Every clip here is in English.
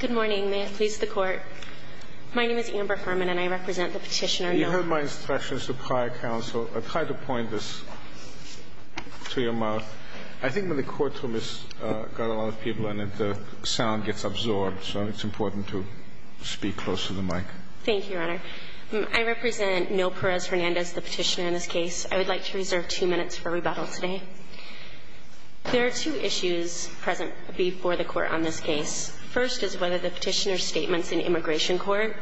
Good morning. May it please the Court. My name is Amber Furman and I represent the Petitioner, Noel Perez-Hernandez v. Eric Holder, Jr. You heard my instructions to prior counsel. I tried to point this to your mouth. I think when the courtroom has got a lot of people in it, the sound gets absorbed, so it's important to speak close to the mic. Thank you, Your Honor. I represent Noel Perez-Hernandez, the Petitioner, in this case. I would like to reserve two minutes for rebuttal today. There are two issues present before the Court on this case. First is whether the Petitioner's statements in immigration court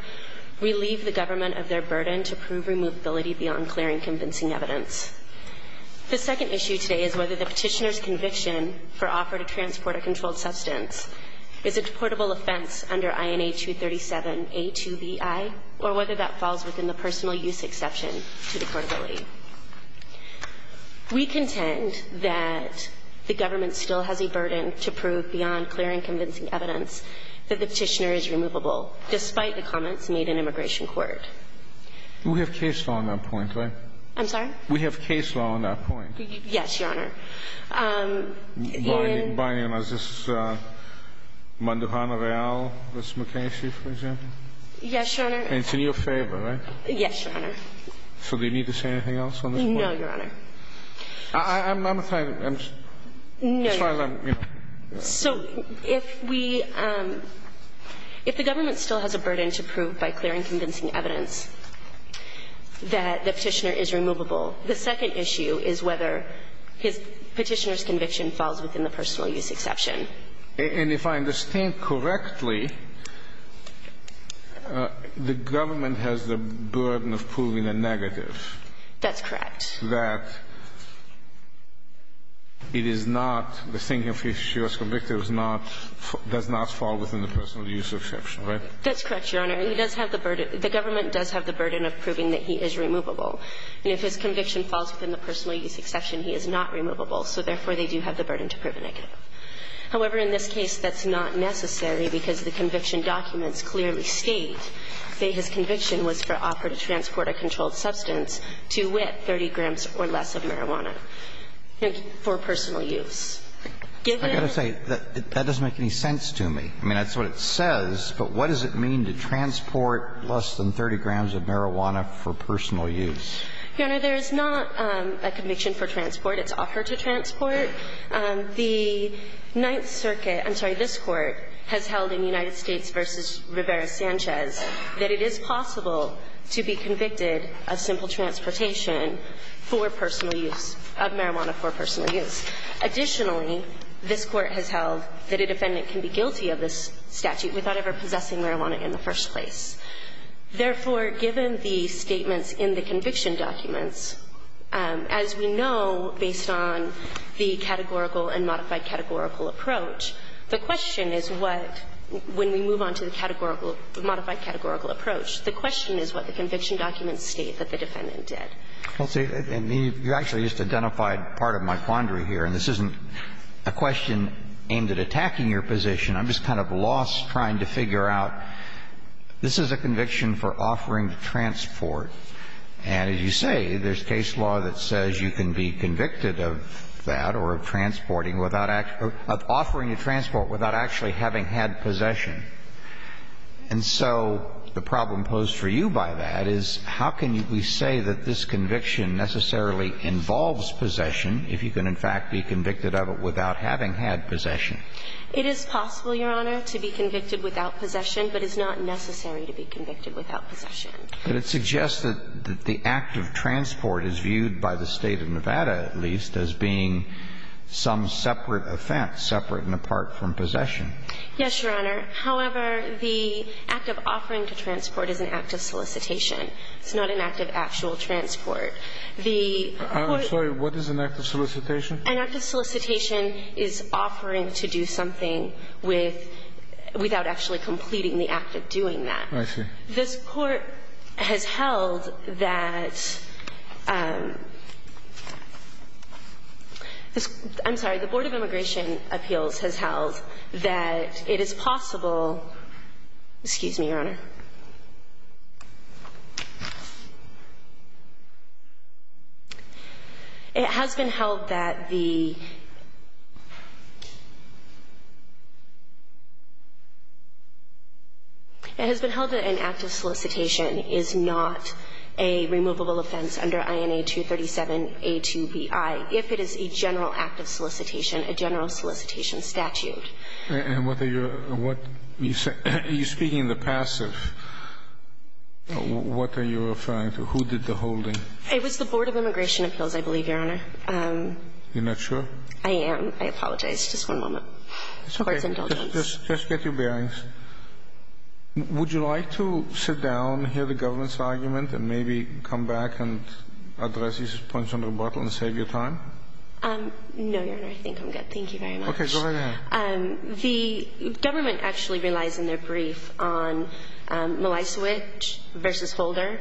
relieve the government of their burden to prove removability beyond clearing convincing evidence. The second issue today is whether the Petitioner's conviction for offer to transport a controlled substance is a deportable offense under INA 237-A2BI or whether that falls within the personal use exception to deportability. We contend that the government still has a burden to prove beyond clearing convincing evidence that the Petitioner is removable, despite the comments made in immigration court. We have case law on that point, right? I'm sorry? We have case law on that point. Yes, Your Honor. By name, is this Manduhana Real v. McKessie, for example? Yes, Your Honor. And it's in your favor, right? Yes, Your Honor. So do you need to say anything else on this point? No, Your Honor. I'm trying to – I'm trying to – So if we – if the government still has a burden to prove by clearing convincing evidence that the Petitioner is removable, the second issue is whether his Petitioner's conviction falls within the personal use exception. And if I understand correctly, the government has the burden of proving a negative. That's correct. That it is not – the thinking of if she was convicted does not fall within the personal use exception, right? That's correct, Your Honor. He does have the burden – the government does have the burden of proving that he is removable. And if his conviction falls within the personal use exception, he is not removable, so therefore they do have the burden to prove a negative. However, in this case, that's not necessary because the conviction documents clearly state that his conviction was for offer to transport a controlled substance to wit 30 grams or less of marijuana for personal use. I've got to say, that doesn't make any sense to me. I mean, that's what it says, but what does it mean to transport less than 30 grams of marijuana for personal use? Your Honor, there is not a conviction for transport. It's offer to transport. The Ninth Circuit – I'm sorry, this Court has held in United States v. Rivera-Sanchez that it is possible to be convicted of simple transportation for personal use – of marijuana for personal use. Additionally, this Court has held that a defendant can be guilty of this statute without ever possessing marijuana in the first place. Therefore, given the statements in the conviction documents, as we know based on the categorical and modified categorical approach, the question is what, when we move on to the modified categorical approach, the question is what the conviction documents state that the defendant did. Well, see, and you actually just identified part of my quandary here, and this isn't a question aimed at attacking your position. I'm just kind of lost trying to figure out, this is a conviction for offering to transport. And as you say, there's case law that says you can be convicted of that or of transporting without – of offering to transport without actually having had possession. And so the problem posed for you by that is, how can we say that this conviction necessarily involves possession if you can, in fact, be convicted of it without having had possession? It is possible, Your Honor, to be convicted without possession, but it's not necessary to be convicted without possession. But it suggests that the act of transport is viewed by the State of Nevada, at least, as being some separate offense, separate and apart from possession. Yes, Your Honor. However, the act of offering to transport is an act of solicitation. It's not an act of actual transport. The Court – I'm sorry. What is an act of solicitation? An act of solicitation is offering to do something with – without actually completing the act of doing that. I see. This Court has held that – I'm sorry. The Board of Immigration Appeals has held that it is possible – excuse me, Your is not a removable offense under INA 237A2BI. If it is a general act of solicitation, a general solicitation statute. And what are your – are you speaking in the passive? What are you referring to? Who did the holding? It was the Board of Immigration Appeals, I believe, Your Honor. You're not sure? I am. I apologize. Just one moment. Court's indulgence. Just get your bearings. Would you like to sit down, hear the government's argument, and maybe come back and address these points on rebuttal and save your time? No, Your Honor. I think I'm good. Thank you very much. Okay. Go right ahead. The government actually relies in their brief on Mlaisiewicz v. Holder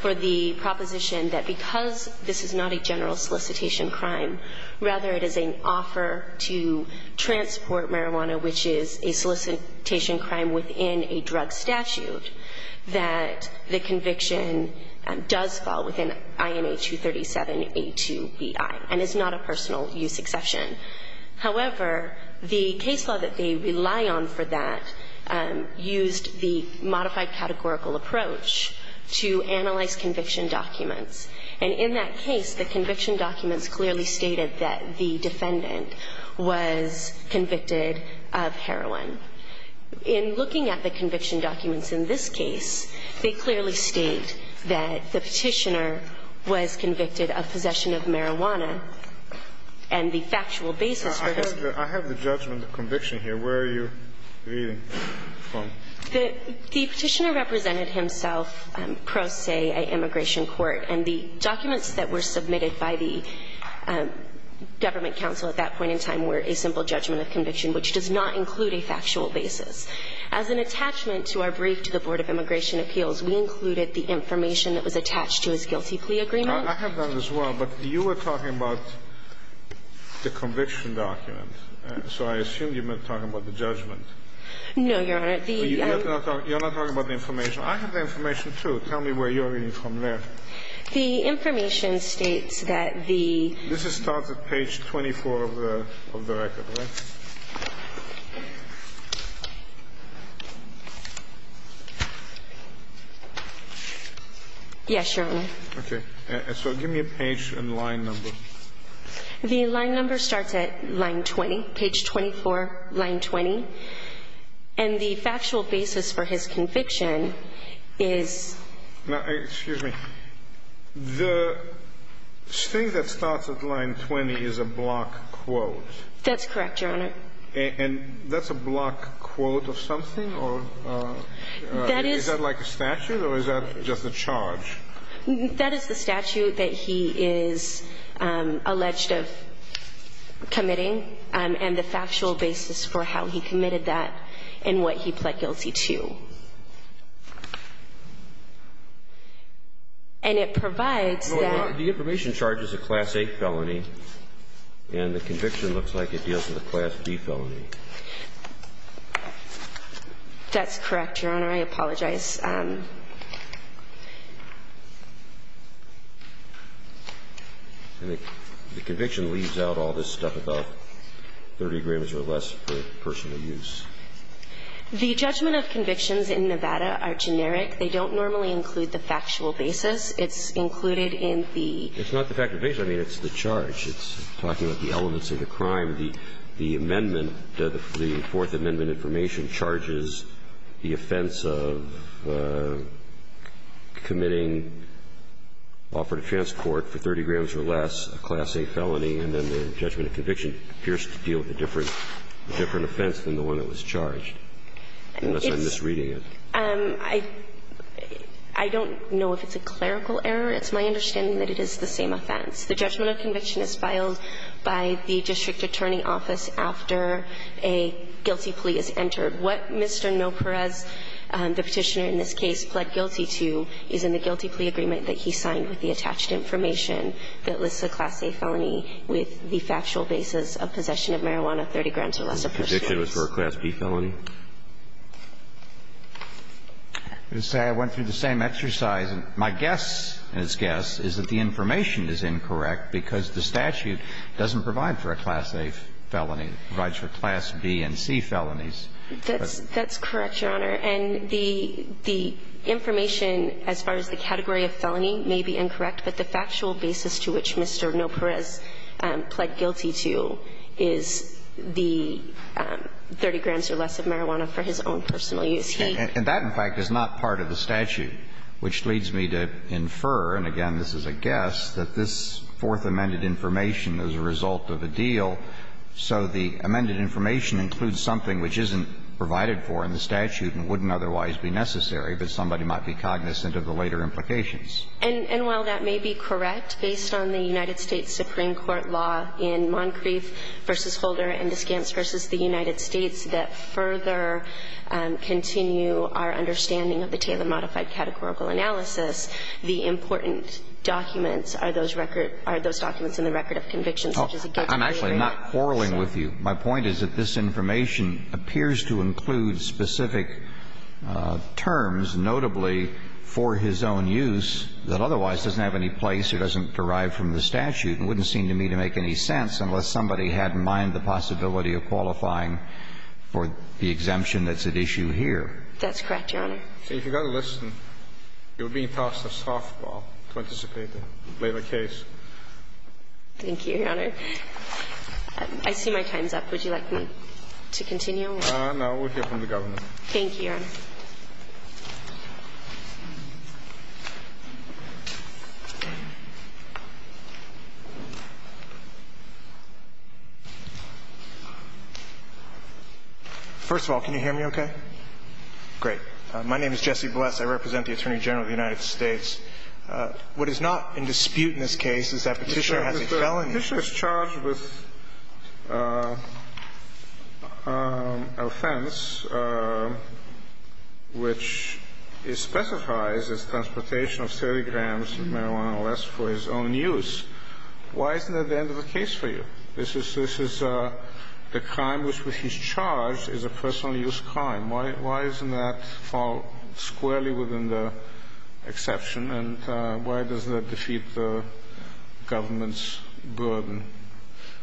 for the proposition that because this is not a general solicitation crime, rather it is an offer to transport marijuana, which is a solicitation crime within a drug statute, that the conviction does fall within INA 237A2BI and is not a personal use exception. However, the case law that they rely on for that used the modified categorical approach to analyze conviction documents. And in that case, the conviction documents clearly stated that the defendant was convicted of heroin. In looking at the conviction documents in this case, they clearly state that the Petitioner was convicted of possession of marijuana and the factual basis for this. I have the judgment of conviction here. Where are you reading from? The Petitioner represented himself pro se a immigration court, and the documents that were submitted by the Government Council at that point in time were a simple judgment of conviction, which does not include a factual basis. As an attachment to our brief to the Board of Immigration Appeals, we included the information that was attached to his guilty plea agreement. I have that as well, but you were talking about the conviction document, so I assume you meant talking about the judgment. No, Your Honor. You're not talking about the information. I have the information, too. Tell me where you're reading from there. The information states that the ---- This starts at page 24 of the record, right? Yes, Your Honor. Okay. So give me a page and line number. The line number starts at line 20, page 24, line 20. And the factual basis for his conviction is ---- Now, excuse me. The thing that starts at line 20 is a block quote. That's correct, Your Honor. And that's a block quote of something, or is that like a statute, or is that just a charge? That is the statute that he is alleged of committing, and the factual basis for how he committed that and what he pled guilty to. And it provides that ---- No, Your Honor. The information charges a class A felony, and the conviction looks like it deals with a class B felony. That's correct, Your Honor. I apologize. And the conviction leaves out all this stuff about 30 agreements or less per person The judgment of convictions in Nevada are generic. They don't normally include the factual basis. It's included in the ---- It's not the factual basis. I mean, it's the charge. It's talking about the elements of the crime. The amendment, the Fourth Amendment information charges the offense of committing offer to transport for 30 grams or less, a class A felony, and then the judgment of conviction appears to deal with a different offense than the one that was charged, unless I'm misreading it. I don't know if it's a clerical error. It's my understanding that it is the same offense. The judgment of conviction is filed by the district attorney office after a guilty plea is entered. What Mr. Noparez, the Petitioner in this case, pled guilty to is in the guilty plea agreement that he signed with the attached information that lists a class A felony with the factual basis of possession of marijuana, 30 grams or less per person. The prediction was for a class B felony? I would say I went through the same exercise. My guess, and it's guess, is that the information is incorrect because the statute doesn't provide for a class A felony. It provides for class B and C felonies. That's correct, Your Honor. And the information as far as the category of felony may be incorrect, but the factual basis to which Mr. Noparez pled guilty to is the 30 grams or less of marijuana for his own personal use. He ---- And that, in fact, is not part of the statute, which leads me to infer, and again, this is a guess, that this fourth amended information is a result of a deal. So the amended information includes something which isn't provided for in the statute and wouldn't otherwise be necessary, but somebody might be cognizant of the later implications. And while that may be correct, based on the United States Supreme Court law in Moncrief v. Holder and Descamps v. the United States that further continue our understanding of the Taylor modified categorical analysis, the important documents are those record ---- are those documents in the record of conviction, such as a guilty plea or not. I'm actually not quarreling with you. My point is that this information appears to include specific terms, notably for his own use, that otherwise doesn't have any place or doesn't derive from the statute and wouldn't seem to me to make any sense unless somebody had in mind the possibility of qualifying for the exemption that's at issue here. That's correct, Your Honor. So if you're going to listen, you're being tossed a softball to anticipate a later case. Thank you, Your Honor. I see my time's up. Would you like me to continue? No. We'll hear from the Governor. Thank you, Your Honor. First of all, can you hear me okay? Great. My name is Jesse Bless. I represent the Attorney General of the United States. What is not in dispute in this case is that Petitioner has a felony. Petitioner is charged with offense which is specified as transportation of 30 grams of marijuana or less for his own use. Why isn't that the end of the case for you? This is the crime with which he's charged is a personal use crime. Why doesn't that fall squarely within the exception? And why does that defeat the government's burden?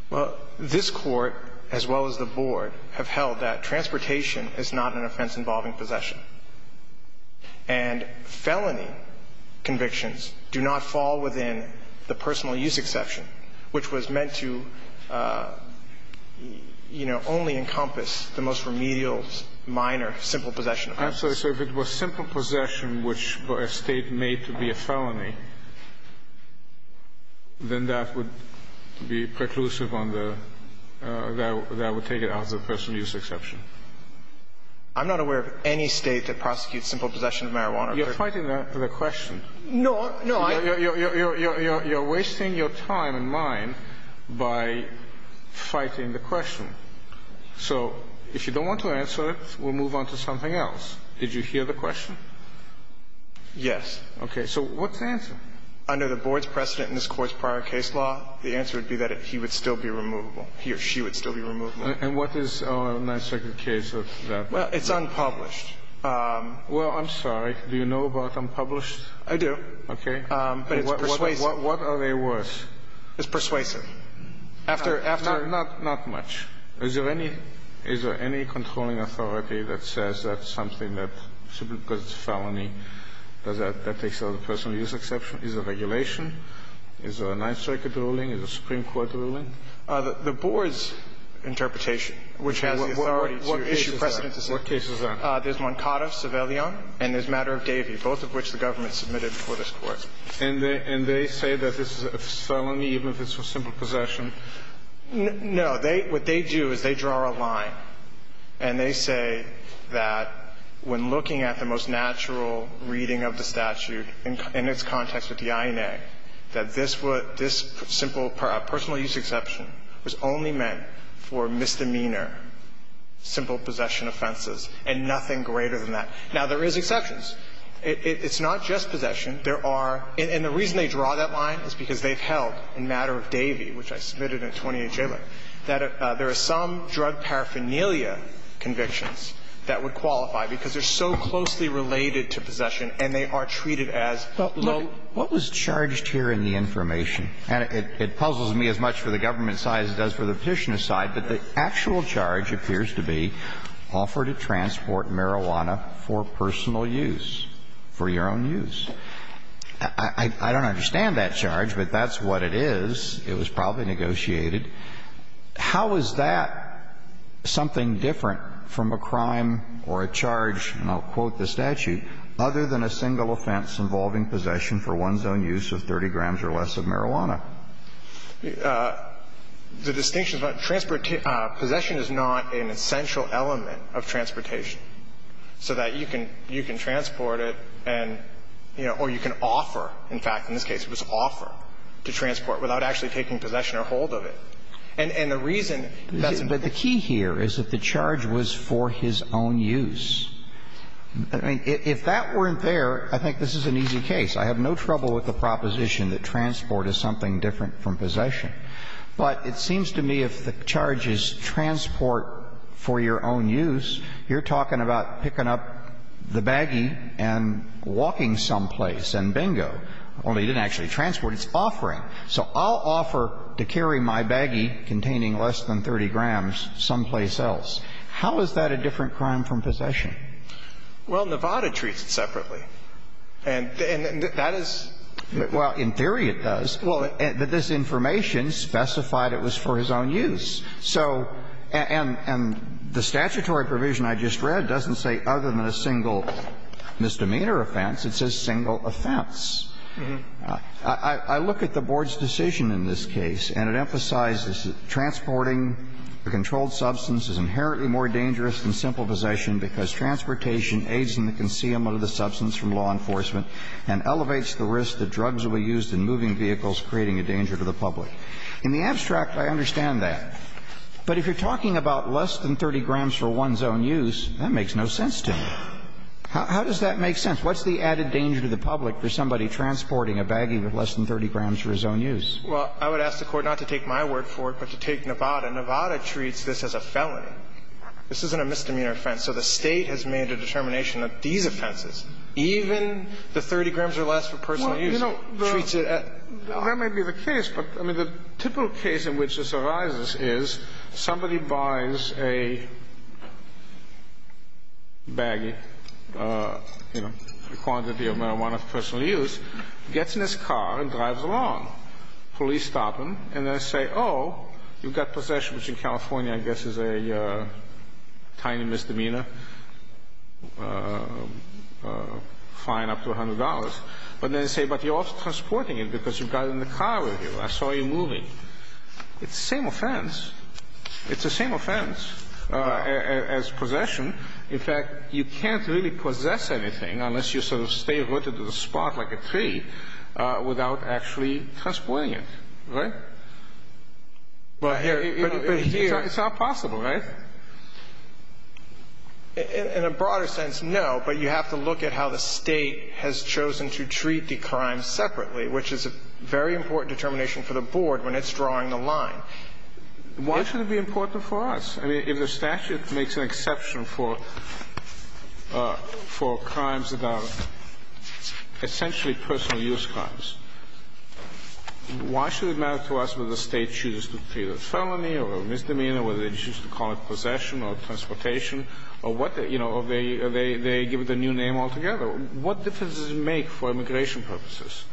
Well, this Court, as well as the Board, have held that transportation is not an offense involving possession. And felony convictions do not fall within the personal use exception, which was meant to, you know, only encompass the most remedial minor simple possession offense. I'm sorry. So if it was simple possession which a State made to be a felony, then that would be preclusive on the – that would take it out of the personal use exception. I'm not aware of any State that prosecutes simple possession of marijuana. You're fighting the question. No. You're wasting your time and mine by fighting the question. So if you don't want to answer it, we'll move on to something else. Did you hear the question? Yes. Okay. So what's the answer? Under the Board's precedent in this Court's prior case law, the answer would be that he would still be removable. He or she would still be removable. And what is our Ninth Circuit case of that? Well, it's unpublished. Well, I'm sorry. Do you know about unpublished? I do. Okay. But it's persuasive. What are they worth? It's persuasive. After – Not much. Is there any – is there any controlling authority that says that's something that – simply because it's a felony, does that – that takes it out of the personal use exception? Is there regulation? Is there a Ninth Circuit ruling? Is there a Supreme Court ruling? The Board's interpretation, which has the authority to issue precedents. What case is that? What case is that? There's Moncada, Civilian, and there's Matter of Davie, both of which the government submitted before this Court. And they say that this is a felony even if it's for simple possession? No. They – what they do is they draw a line, and they say that when looking at the most natural reading of the statute in its context with the INA, that this would – this simple personal use exception was only meant for misdemeanor, simple possession offenses, and nothing greater than that. Now, there is exceptions. It's not just possession. There are – and the reason they draw that line is because they've held in Matter of Davie, which I submitted in 28 Jalop, that there are some drug paraphernalia convictions that would qualify, because they're so closely related to possession, and they are treated as low-level. What was charged here in the information? And it puzzles me as much for the government side as it does for the Petitioner side, but the actual charge appears to be offer to transport marijuana for personal use, for your own use. I don't understand that charge, but that's what it is. It was probably negotiated. How is that something different from a crime or a charge, and I'll quote the statute, other than a single offense involving possession for one's own use of 30 grams or less of marijuana? The distinction is not – possession is not an essential element of transportation so that you can – you can transport it and, you know, or you can offer. In fact, in this case, it was offer to transport without actually taking possession or hold of it. And the reason that's important. But the key here is that the charge was for his own use. I mean, if that weren't there, I think this is an easy case. I have no trouble with the proposition that transport is something different from possession, but it seems to me if the charge is transport for your own use, you're talking about picking up the baggie and walking someplace and bingo, only you didn't actually transport. It's offering. So I'll offer to carry my baggie containing less than 30 grams someplace else. How is that a different crime from possession? Well, Nevada treats it separately. And that is – Well, in theory, it does. Well – But this information specified it was for his own use. So – and the statutory provision I just read doesn't say other than a single misdemeanor offense. It says single offense. I look at the Board's decision in this case, and it emphasizes that transporting a controlled substance is inherently more dangerous than simple possession because transportation aids in the concealment of the substance from law enforcement and elevates the risk that drugs will be used in moving vehicles, creating a danger to the public. In the abstract, I understand that. But if you're talking about less than 30 grams for one's own use, that makes no sense to me. How does that make sense? What's the added danger to the public for somebody transporting a baggie with less than 30 grams for his own use? Well, I would ask the Court not to take my word for it, but to take Nevada. Nevada treats this as a felony. This isn't a misdemeanor offense. So the State has made a determination that these offenses, even the 30 grams or less for personal use, treats it as – Well, that may be the case. But, I mean, the typical case in which this arises is somebody buys a baggie, you know, a quantity of marijuana for personal use, gets in his car and drives along. Police stop him, and they say, oh, you've got possession, which in California, I guess, is a tiny misdemeanor fine up to $100. But then they say, but you're also transporting it because you got it in the car with you. I saw you moving. It's the same offense. It's the same offense as possession. In fact, you can't really possess anything unless you sort of stay rooted to the spot like a tree without actually transporting it, right? But here – It's not possible, right? In a broader sense, no. But you have to look at how the State has chosen to treat the crime separately, which is a very important determination for the Board when it's drawing the line. Why should it be important for us? I mean, if the statute makes an exception for crimes that are essentially personal use crimes, why should it matter to us whether the State chooses to treat it as felony or misdemeanor, whether they choose to call it possession or transportation or what, you know, or they give it a new name altogether? What difference does it make for immigration purposes?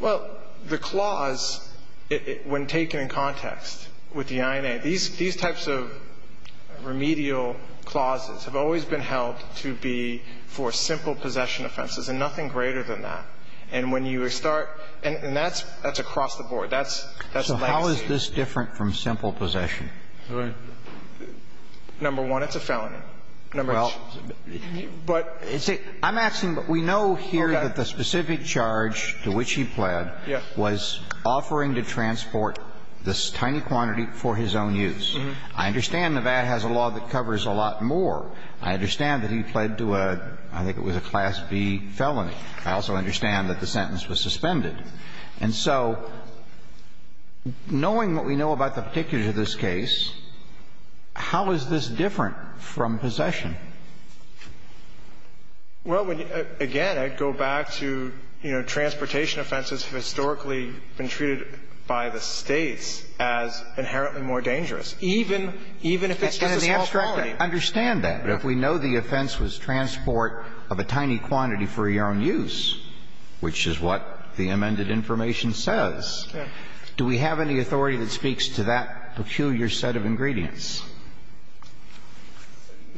Well, the clause, when taken in context with the INA, these types of remedial clauses have always been held to be for simple possession offenses and nothing greater than that. And when you start – and that's across the board. That's legacy. So how is this different from simple possession? Right. Well, it's a felony. Number one, it's a felony. Well, I'm asking, but we know here that the specific charge to which he pled was offering to transport this tiny quantity for his own use. I understand Nevada has a law that covers a lot more. I understand that he pled to a – I think it was a Class B felony. I also understand that the sentence was suspended. And so knowing what we know about the particulars of this case, how is this different from possession? Well, again, I'd go back to, you know, transportation offenses have historically been treated by the States as inherently more dangerous, even if it's just a small felony. I understand that. But if we know the offense was transport of a tiny quantity for your own use, which is what the amended information says, do we have any authority that speaks to that peculiar set of ingredients?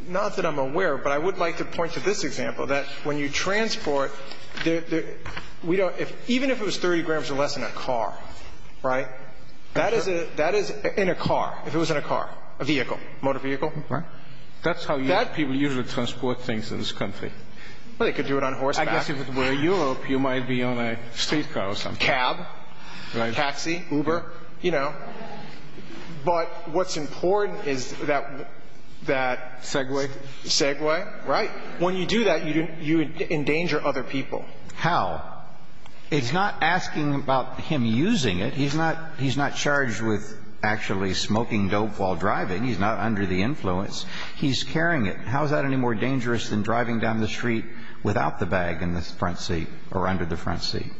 Not that I'm aware, but I would like to point to this example, that when you transport – we don't – even if it was 30 grams or less in a car, right, that is a – that is in a car, if it was in a car, a vehicle, motor vehicle. Right. That's how people usually transport things in this country. Well, they could do it on horseback. I guess if it were Europe, you might be on a streetcar or something. Cab. Taxi. Uber. You know. But what's important is that – that – Segway. Segway. Right. When you do that, you endanger other people. How? It's not asking about him using it. He's not – he's not charged with actually smoking dope while driving. He's not under the influence. He's carrying it. How is that any more dangerous than driving down the street without the bag in the front seat or under the front seat?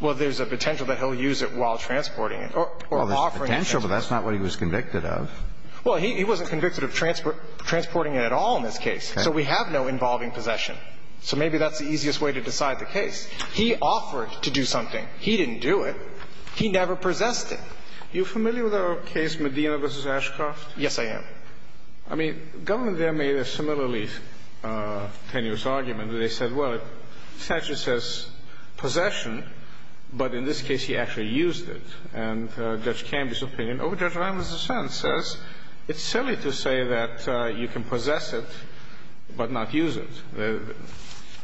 Well, there's a potential that he'll use it while transporting it or offering it. Well, there's potential, but that's not what he was convicted of. Well, he wasn't convicted of transporting it at all in this case. So we have no involving possession. So maybe that's the easiest way to decide the case. He offered to do something. He didn't do it. He never possessed it. Are you familiar with the case Medina v. Ashcroft? Yes, I am. I mean, the government there made a similarly tenuous argument. They said, well, it essentially says possession, but in this case he actually used it. And Judge Camby's opinion over Judge Ramos' defense says it's silly to say that you can possess it but not use it.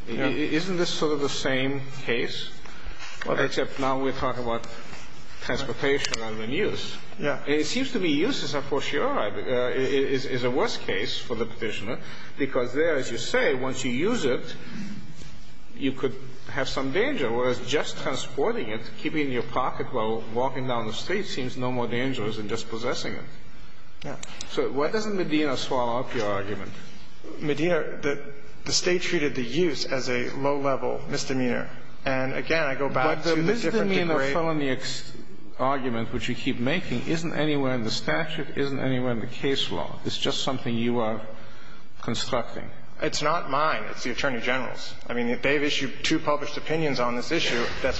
Isn't this sort of the same case, except now we're talking about transportation rather than use? Yeah. It seems to be useless, of course. You're right. It is a worse case for the Petitioner because there, as you say, once you use it, you could have some danger, whereas just transporting it, keeping it in your pocket while walking down the street seems no more dangerous than just possessing it. Yeah. So why doesn't Medina swallow up your argument? Medina, the State treated the use as a low-level misdemeanor. And, again, I go back to a different degree. Your felony argument, which you keep making, isn't anywhere in the statute, isn't anywhere in the case law. It's just something you are constructing. It's not mine. It's the Attorney General's. I mean, they've issued two published opinions on this issue that's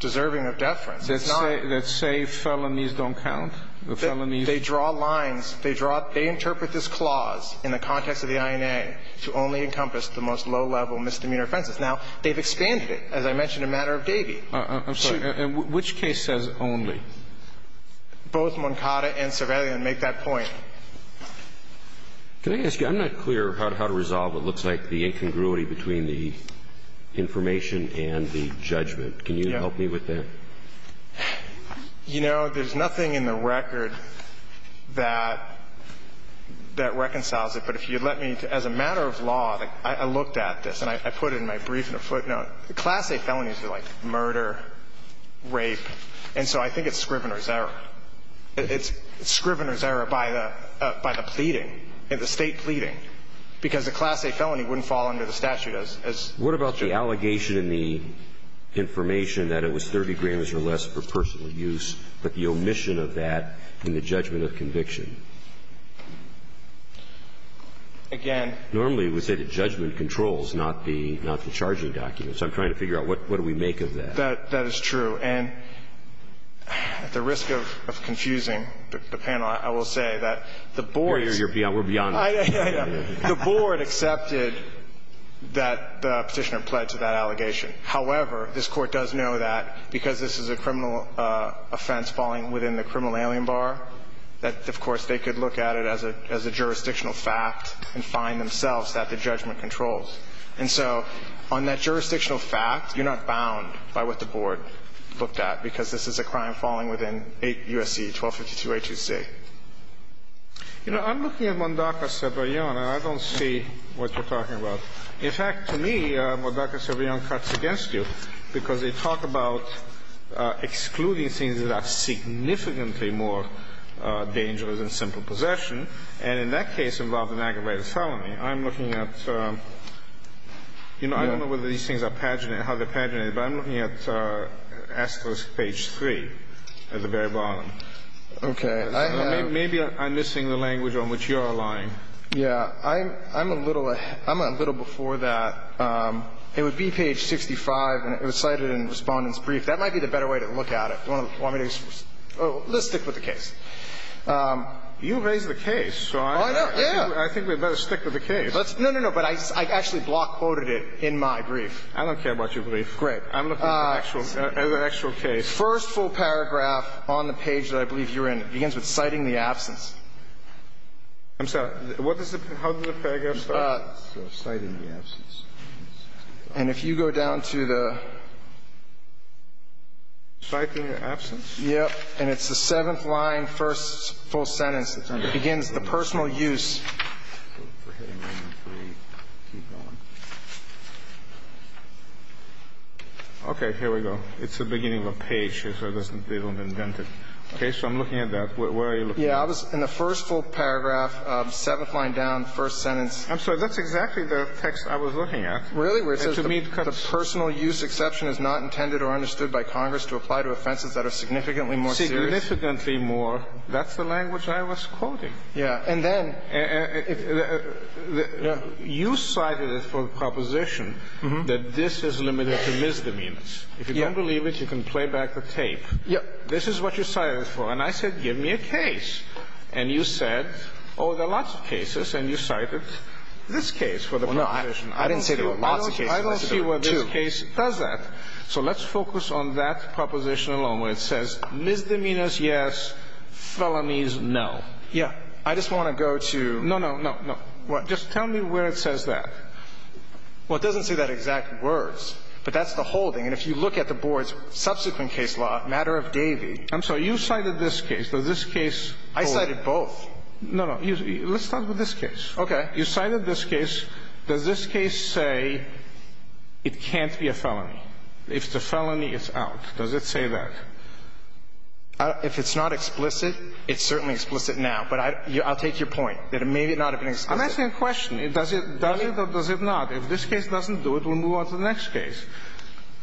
deserving of deference. It's not. That say felonies don't count? The felonies. They draw lines. They draw – they interpret this clause in the context of the INA to only encompass the most low-level misdemeanor offenses. Now, they've expanded it. As I mentioned, a matter of Davy. I'm sorry. Which case says only? Both Moncada and Cervelian make that point. Can I ask you, I'm not clear how to resolve what looks like the incongruity between the information and the judgment. Can you help me with that? You know, there's nothing in the record that reconciles it. But if you'd let me, as a matter of law, I looked at this, and I put it in my brief and I put it in a footnote. Class A felonies are like murder, rape. And so I think it's Scrivener's error. It's Scrivener's error by the pleading, the State pleading. Because a Class A felony wouldn't fall under the statute as judge. What about the allegation in the information that it was 30 grams or less for personal use, but the omission of that in the judgment of conviction? Again. Normally, we say the judgment controls, not the charging documents. I'm trying to figure out what do we make of that. That is true. And at the risk of confusing the panel, I will say that the board's beyond us. The board accepted that the Petitioner pledged to that allegation. However, this Court does know that because this is a criminal offense falling within the criminal alien bar, that, of course, they could look at it as a jurisdictional fact and find themselves that the judgment controls. And so on that jurisdictional fact, you're not bound by what the board looked at, because this is a crime falling within 8 U.S.C., 1252A2C. You know, I'm looking at Mondaca-Ceballon, and I don't see what you're talking about. In fact, to me, Mondaca-Ceballon cuts against you because they talk about excluding things that are significantly more dangerous than simple possession. And in that case involving aggravated felony, I'm looking at, you know, I don't know whether these things are paginated, how they're paginated, but I'm looking at asterisk page 3 at the very bottom. Okay. Maybe I'm missing the language on which you're allying. Yeah. I'm a little before that. It would be page 65, and it was cited in Respondent's Brief. That might be the better way to look at it. Do you want me to just – let's stick with the case. You raised the case. Oh, I know. Yeah. I think we'd better stick with the case. No, no, no. But I actually block quoted it in my brief. I don't care about your brief. Great. I'm looking at an actual case. First full paragraph on the page that I believe you're in. It begins with citing the absence. I'm sorry. What does the – how does the paragraph start? Citing the absence. And if you go down to the – Citing the absence? Yeah. And it's the seventh line, first full sentence. It begins, the personal use. Okay. Here we go. It's the beginning of a page. They don't invent it. Okay. So I'm looking at that. Where are you looking at? Yeah. In the first full paragraph, seventh line down, first sentence. I'm sorry. That's exactly the text I was looking at. Really? Where it says the personal use exception is not intended or understood by Congress to apply to offenses that are significantly more serious? Significantly more. That's the language I was quoting. Yeah. And then – You cited it for the proposition that this is limited to misdemeanors. Yeah. If you don't believe it, you can play back the tape. Yeah. This is what you cited it for. And I said, give me a case. And you said, oh, there are lots of cases. And you cited this case for the proposition. Well, no. I didn't say there were lots of cases. I don't see why this case does that. So let's focus on that proposition alone, where it says misdemeanors, yes, felonies, no. Yeah. I just want to go to – No, no, no, no. What? Just tell me where it says that. Well, it doesn't say that exact words. But that's the holding. And if you look at the Board's subsequent case law, matter of Davey – I'm sorry. You cited this case. Does this case hold – I cited both. No, no. Let's start with this case. Okay. You cited this case. Does this case say it can't be a felony? If it's a felony, it's out. Does it say that? If it's not explicit, it's certainly explicit now. But I'll take your point, that it may not have been explicit. I'm asking a question. Does it? Does it not? If this case doesn't do it, we'll move on to the next case.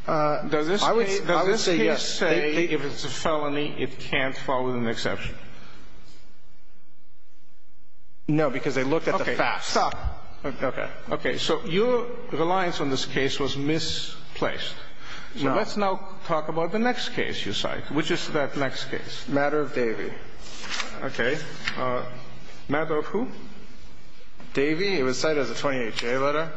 Does this case – I would say yes. Does this case say if it's a felony, it can't fall within the exception? No, because they looked at the facts. Stop. Okay. Okay. So your reliance on this case was misplaced. So let's now talk about the next case you cite. Which is that next case? Matter of Davey. Okay. Matter of who? Davey. It was cited as a 28-J letter.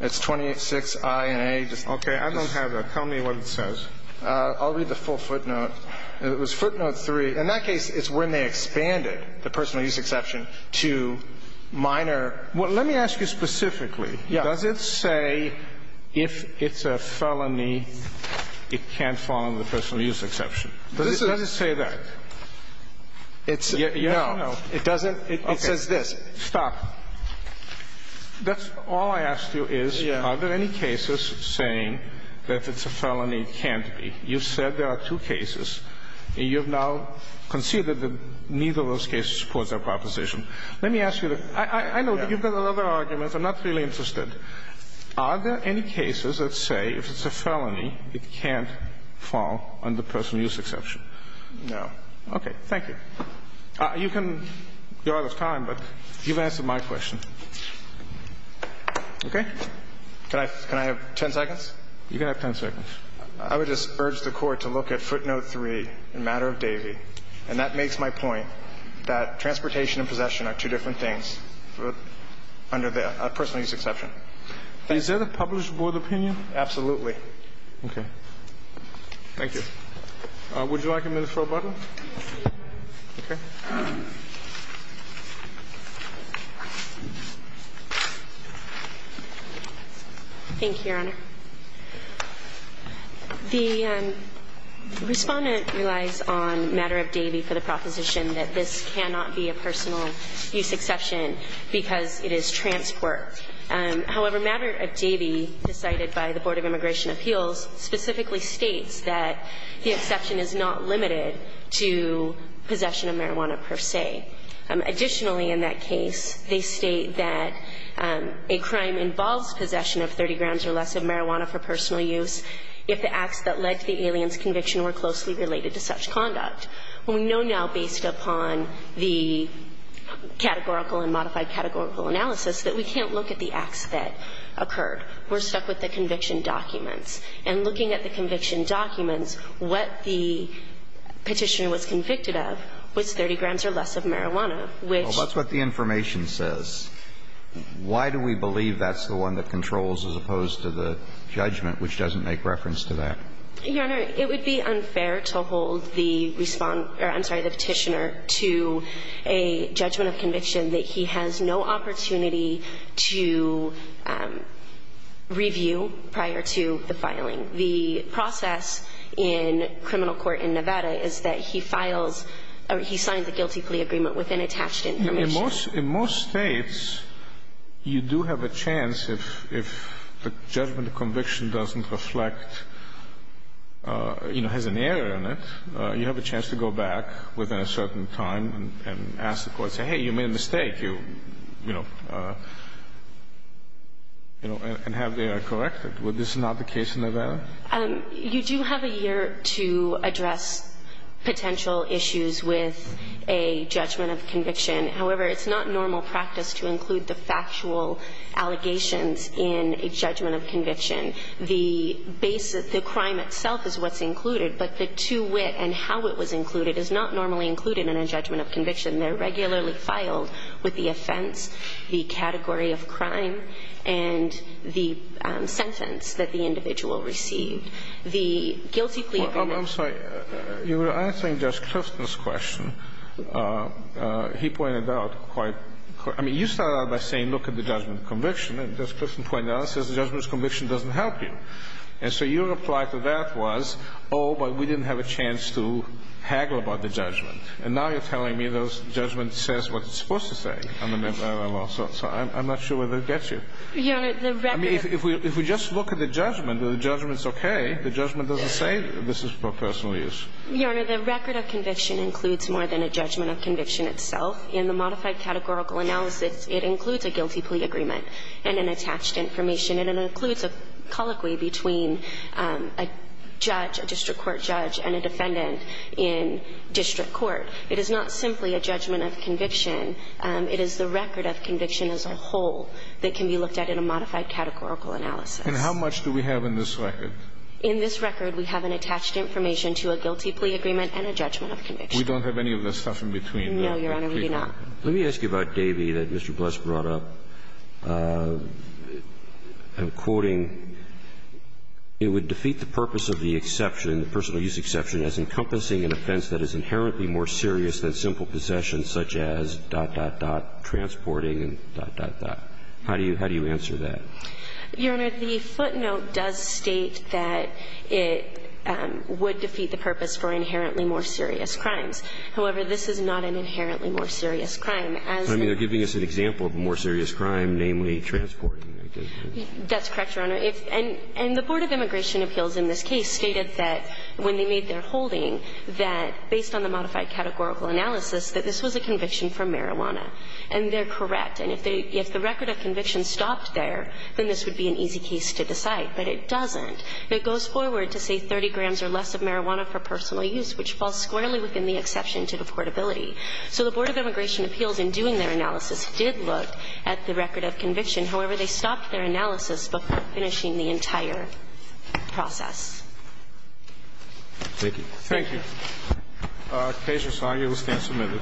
It's 28-6-I-N-A. Okay. I don't have that. Tell me what it says. I'll read the full footnote. It was footnote 3. In that case, it's when they expanded the personal use exception to minor – Well, let me ask you specifically. Yeah. Does it say if it's a felony, it can't fall under the personal use exception? Does it say that? It's – No. It doesn't. It says this. Stop. That's all I asked you is are there any cases saying that it's a felony can't be? You said there are two cases. You have now conceded that neither of those cases supports our proposition. Let me ask you the – I know that you've got other arguments. I'm not really interested. Are there any cases that say if it's a felony, it can't fall under personal use exception? No. Okay. Thank you. You can – you're out of time, but you've answered my question. Okay? Can I have 10 seconds? You can have 10 seconds. I would just urge the Court to look at footnote 3 in matter of Davey. And that makes my point that transportation and possession are two different things under the personal use exception. Is that a published board opinion? Absolutely. Okay. Thank you. Would you like a minute for rebuttal? Yes, please. Okay. Thank you, Your Honor. The respondent relies on matter of Davey for the proposition that this cannot be a personal use exception because it is transport. However, matter of Davey, decided by the Board of Immigration Appeals, specifically states that the exception is not limited to possession of marijuana per se. Additionally, in that case, they state that a crime involves possession of 30 grams of marijuana for personal use if the acts that led to the alien's conviction were closely related to such conduct. We know now, based upon the categorical and modified categorical analysis, that we can't look at the acts that occurred. We're stuck with the conviction documents. And looking at the conviction documents, what the petitioner was convicted of was 30 grams or less of marijuana, which – Well, that's what the information says. Why do we believe that's the one that controls as opposed to the judgment, which doesn't make reference to that? Your Honor, it would be unfair to hold the respondent – or, I'm sorry, the petitioner to a judgment of conviction that he has no opportunity to review prior to the filing. The process in criminal court in Nevada is that he files or he signs a guilty plea agreement with unattached information. In most states, you do have a chance if the judgment of conviction doesn't reflect – you know, has an error in it, you have a chance to go back within a certain time and ask the court, say, hey, you made a mistake, you know, and have the error corrected. Is this not the case in Nevada? You do have a year to address potential issues with a judgment of conviction. However, it's not normal practice to include the factual allegations in a judgment of conviction. The basis – the crime itself is what's included, but the to wit and how it was included is not normally included in a judgment of conviction. They're regularly filed with the offense, the category of crime, and the sentence that the individual received. The guilty plea agreement – I'm sorry. You were answering Judge Clifton's question. He pointed out quite – I mean, you started out by saying look at the judgment of conviction. And Judge Clifton pointed out and says the judgment of conviction doesn't help you. And so your reply to that was, oh, but we didn't have a chance to haggle about the judgment. And now you're telling me the judgment says what it's supposed to say. I mean, I don't know. So I'm not sure whether it gets you. Your Honor, the record – I mean, if we just look at the judgment, the judgment's okay. The judgment doesn't say this is for personal use. Your Honor, the record of conviction includes more than a judgment of conviction itself. In the modified categorical analysis, it includes a guilty plea agreement and an attached information. And it includes a colloquy between a judge, a district court judge, and a defendant in district court. It is not simply a judgment of conviction. It is the record of conviction as a whole that can be looked at in a modified categorical analysis. And how much do we have in this record? In this record, we have an attached information to a guilty plea agreement and a judgment of conviction. We don't have any of the stuff in between, do we? No, Your Honor, we do not. Let me ask you about Davey that Mr. Bluss brought up. I'm quoting, It would defeat the purpose of the exception, the personal use exception, as encompassing an offense that is inherently more serious than simple possession such as dot, dot, dot, transporting, dot, dot, dot. How do you answer that? Your Honor, the footnote does state that it would defeat the purpose for inherently more serious crimes. However, this is not an inherently more serious crime. I mean, they're giving us an example of a more serious crime, namely transporting. That's correct, Your Honor. And the Board of Immigration Appeals in this case stated that when they made their holding, that based on the modified categorical analysis, that this was a conviction from marijuana. And they're correct. And if they – if the record of conviction stopped there, then this would be an easy case to decide. But it doesn't. It goes forward to say 30 grams or less of marijuana for personal use, which falls squarely within the exception to the portability. So the Board of Immigration Appeals in doing their analysis did look at the record of conviction. However, they stopped their analysis before finishing the entire process. Thank you. Thank you. The case is signed. You will stand submitted.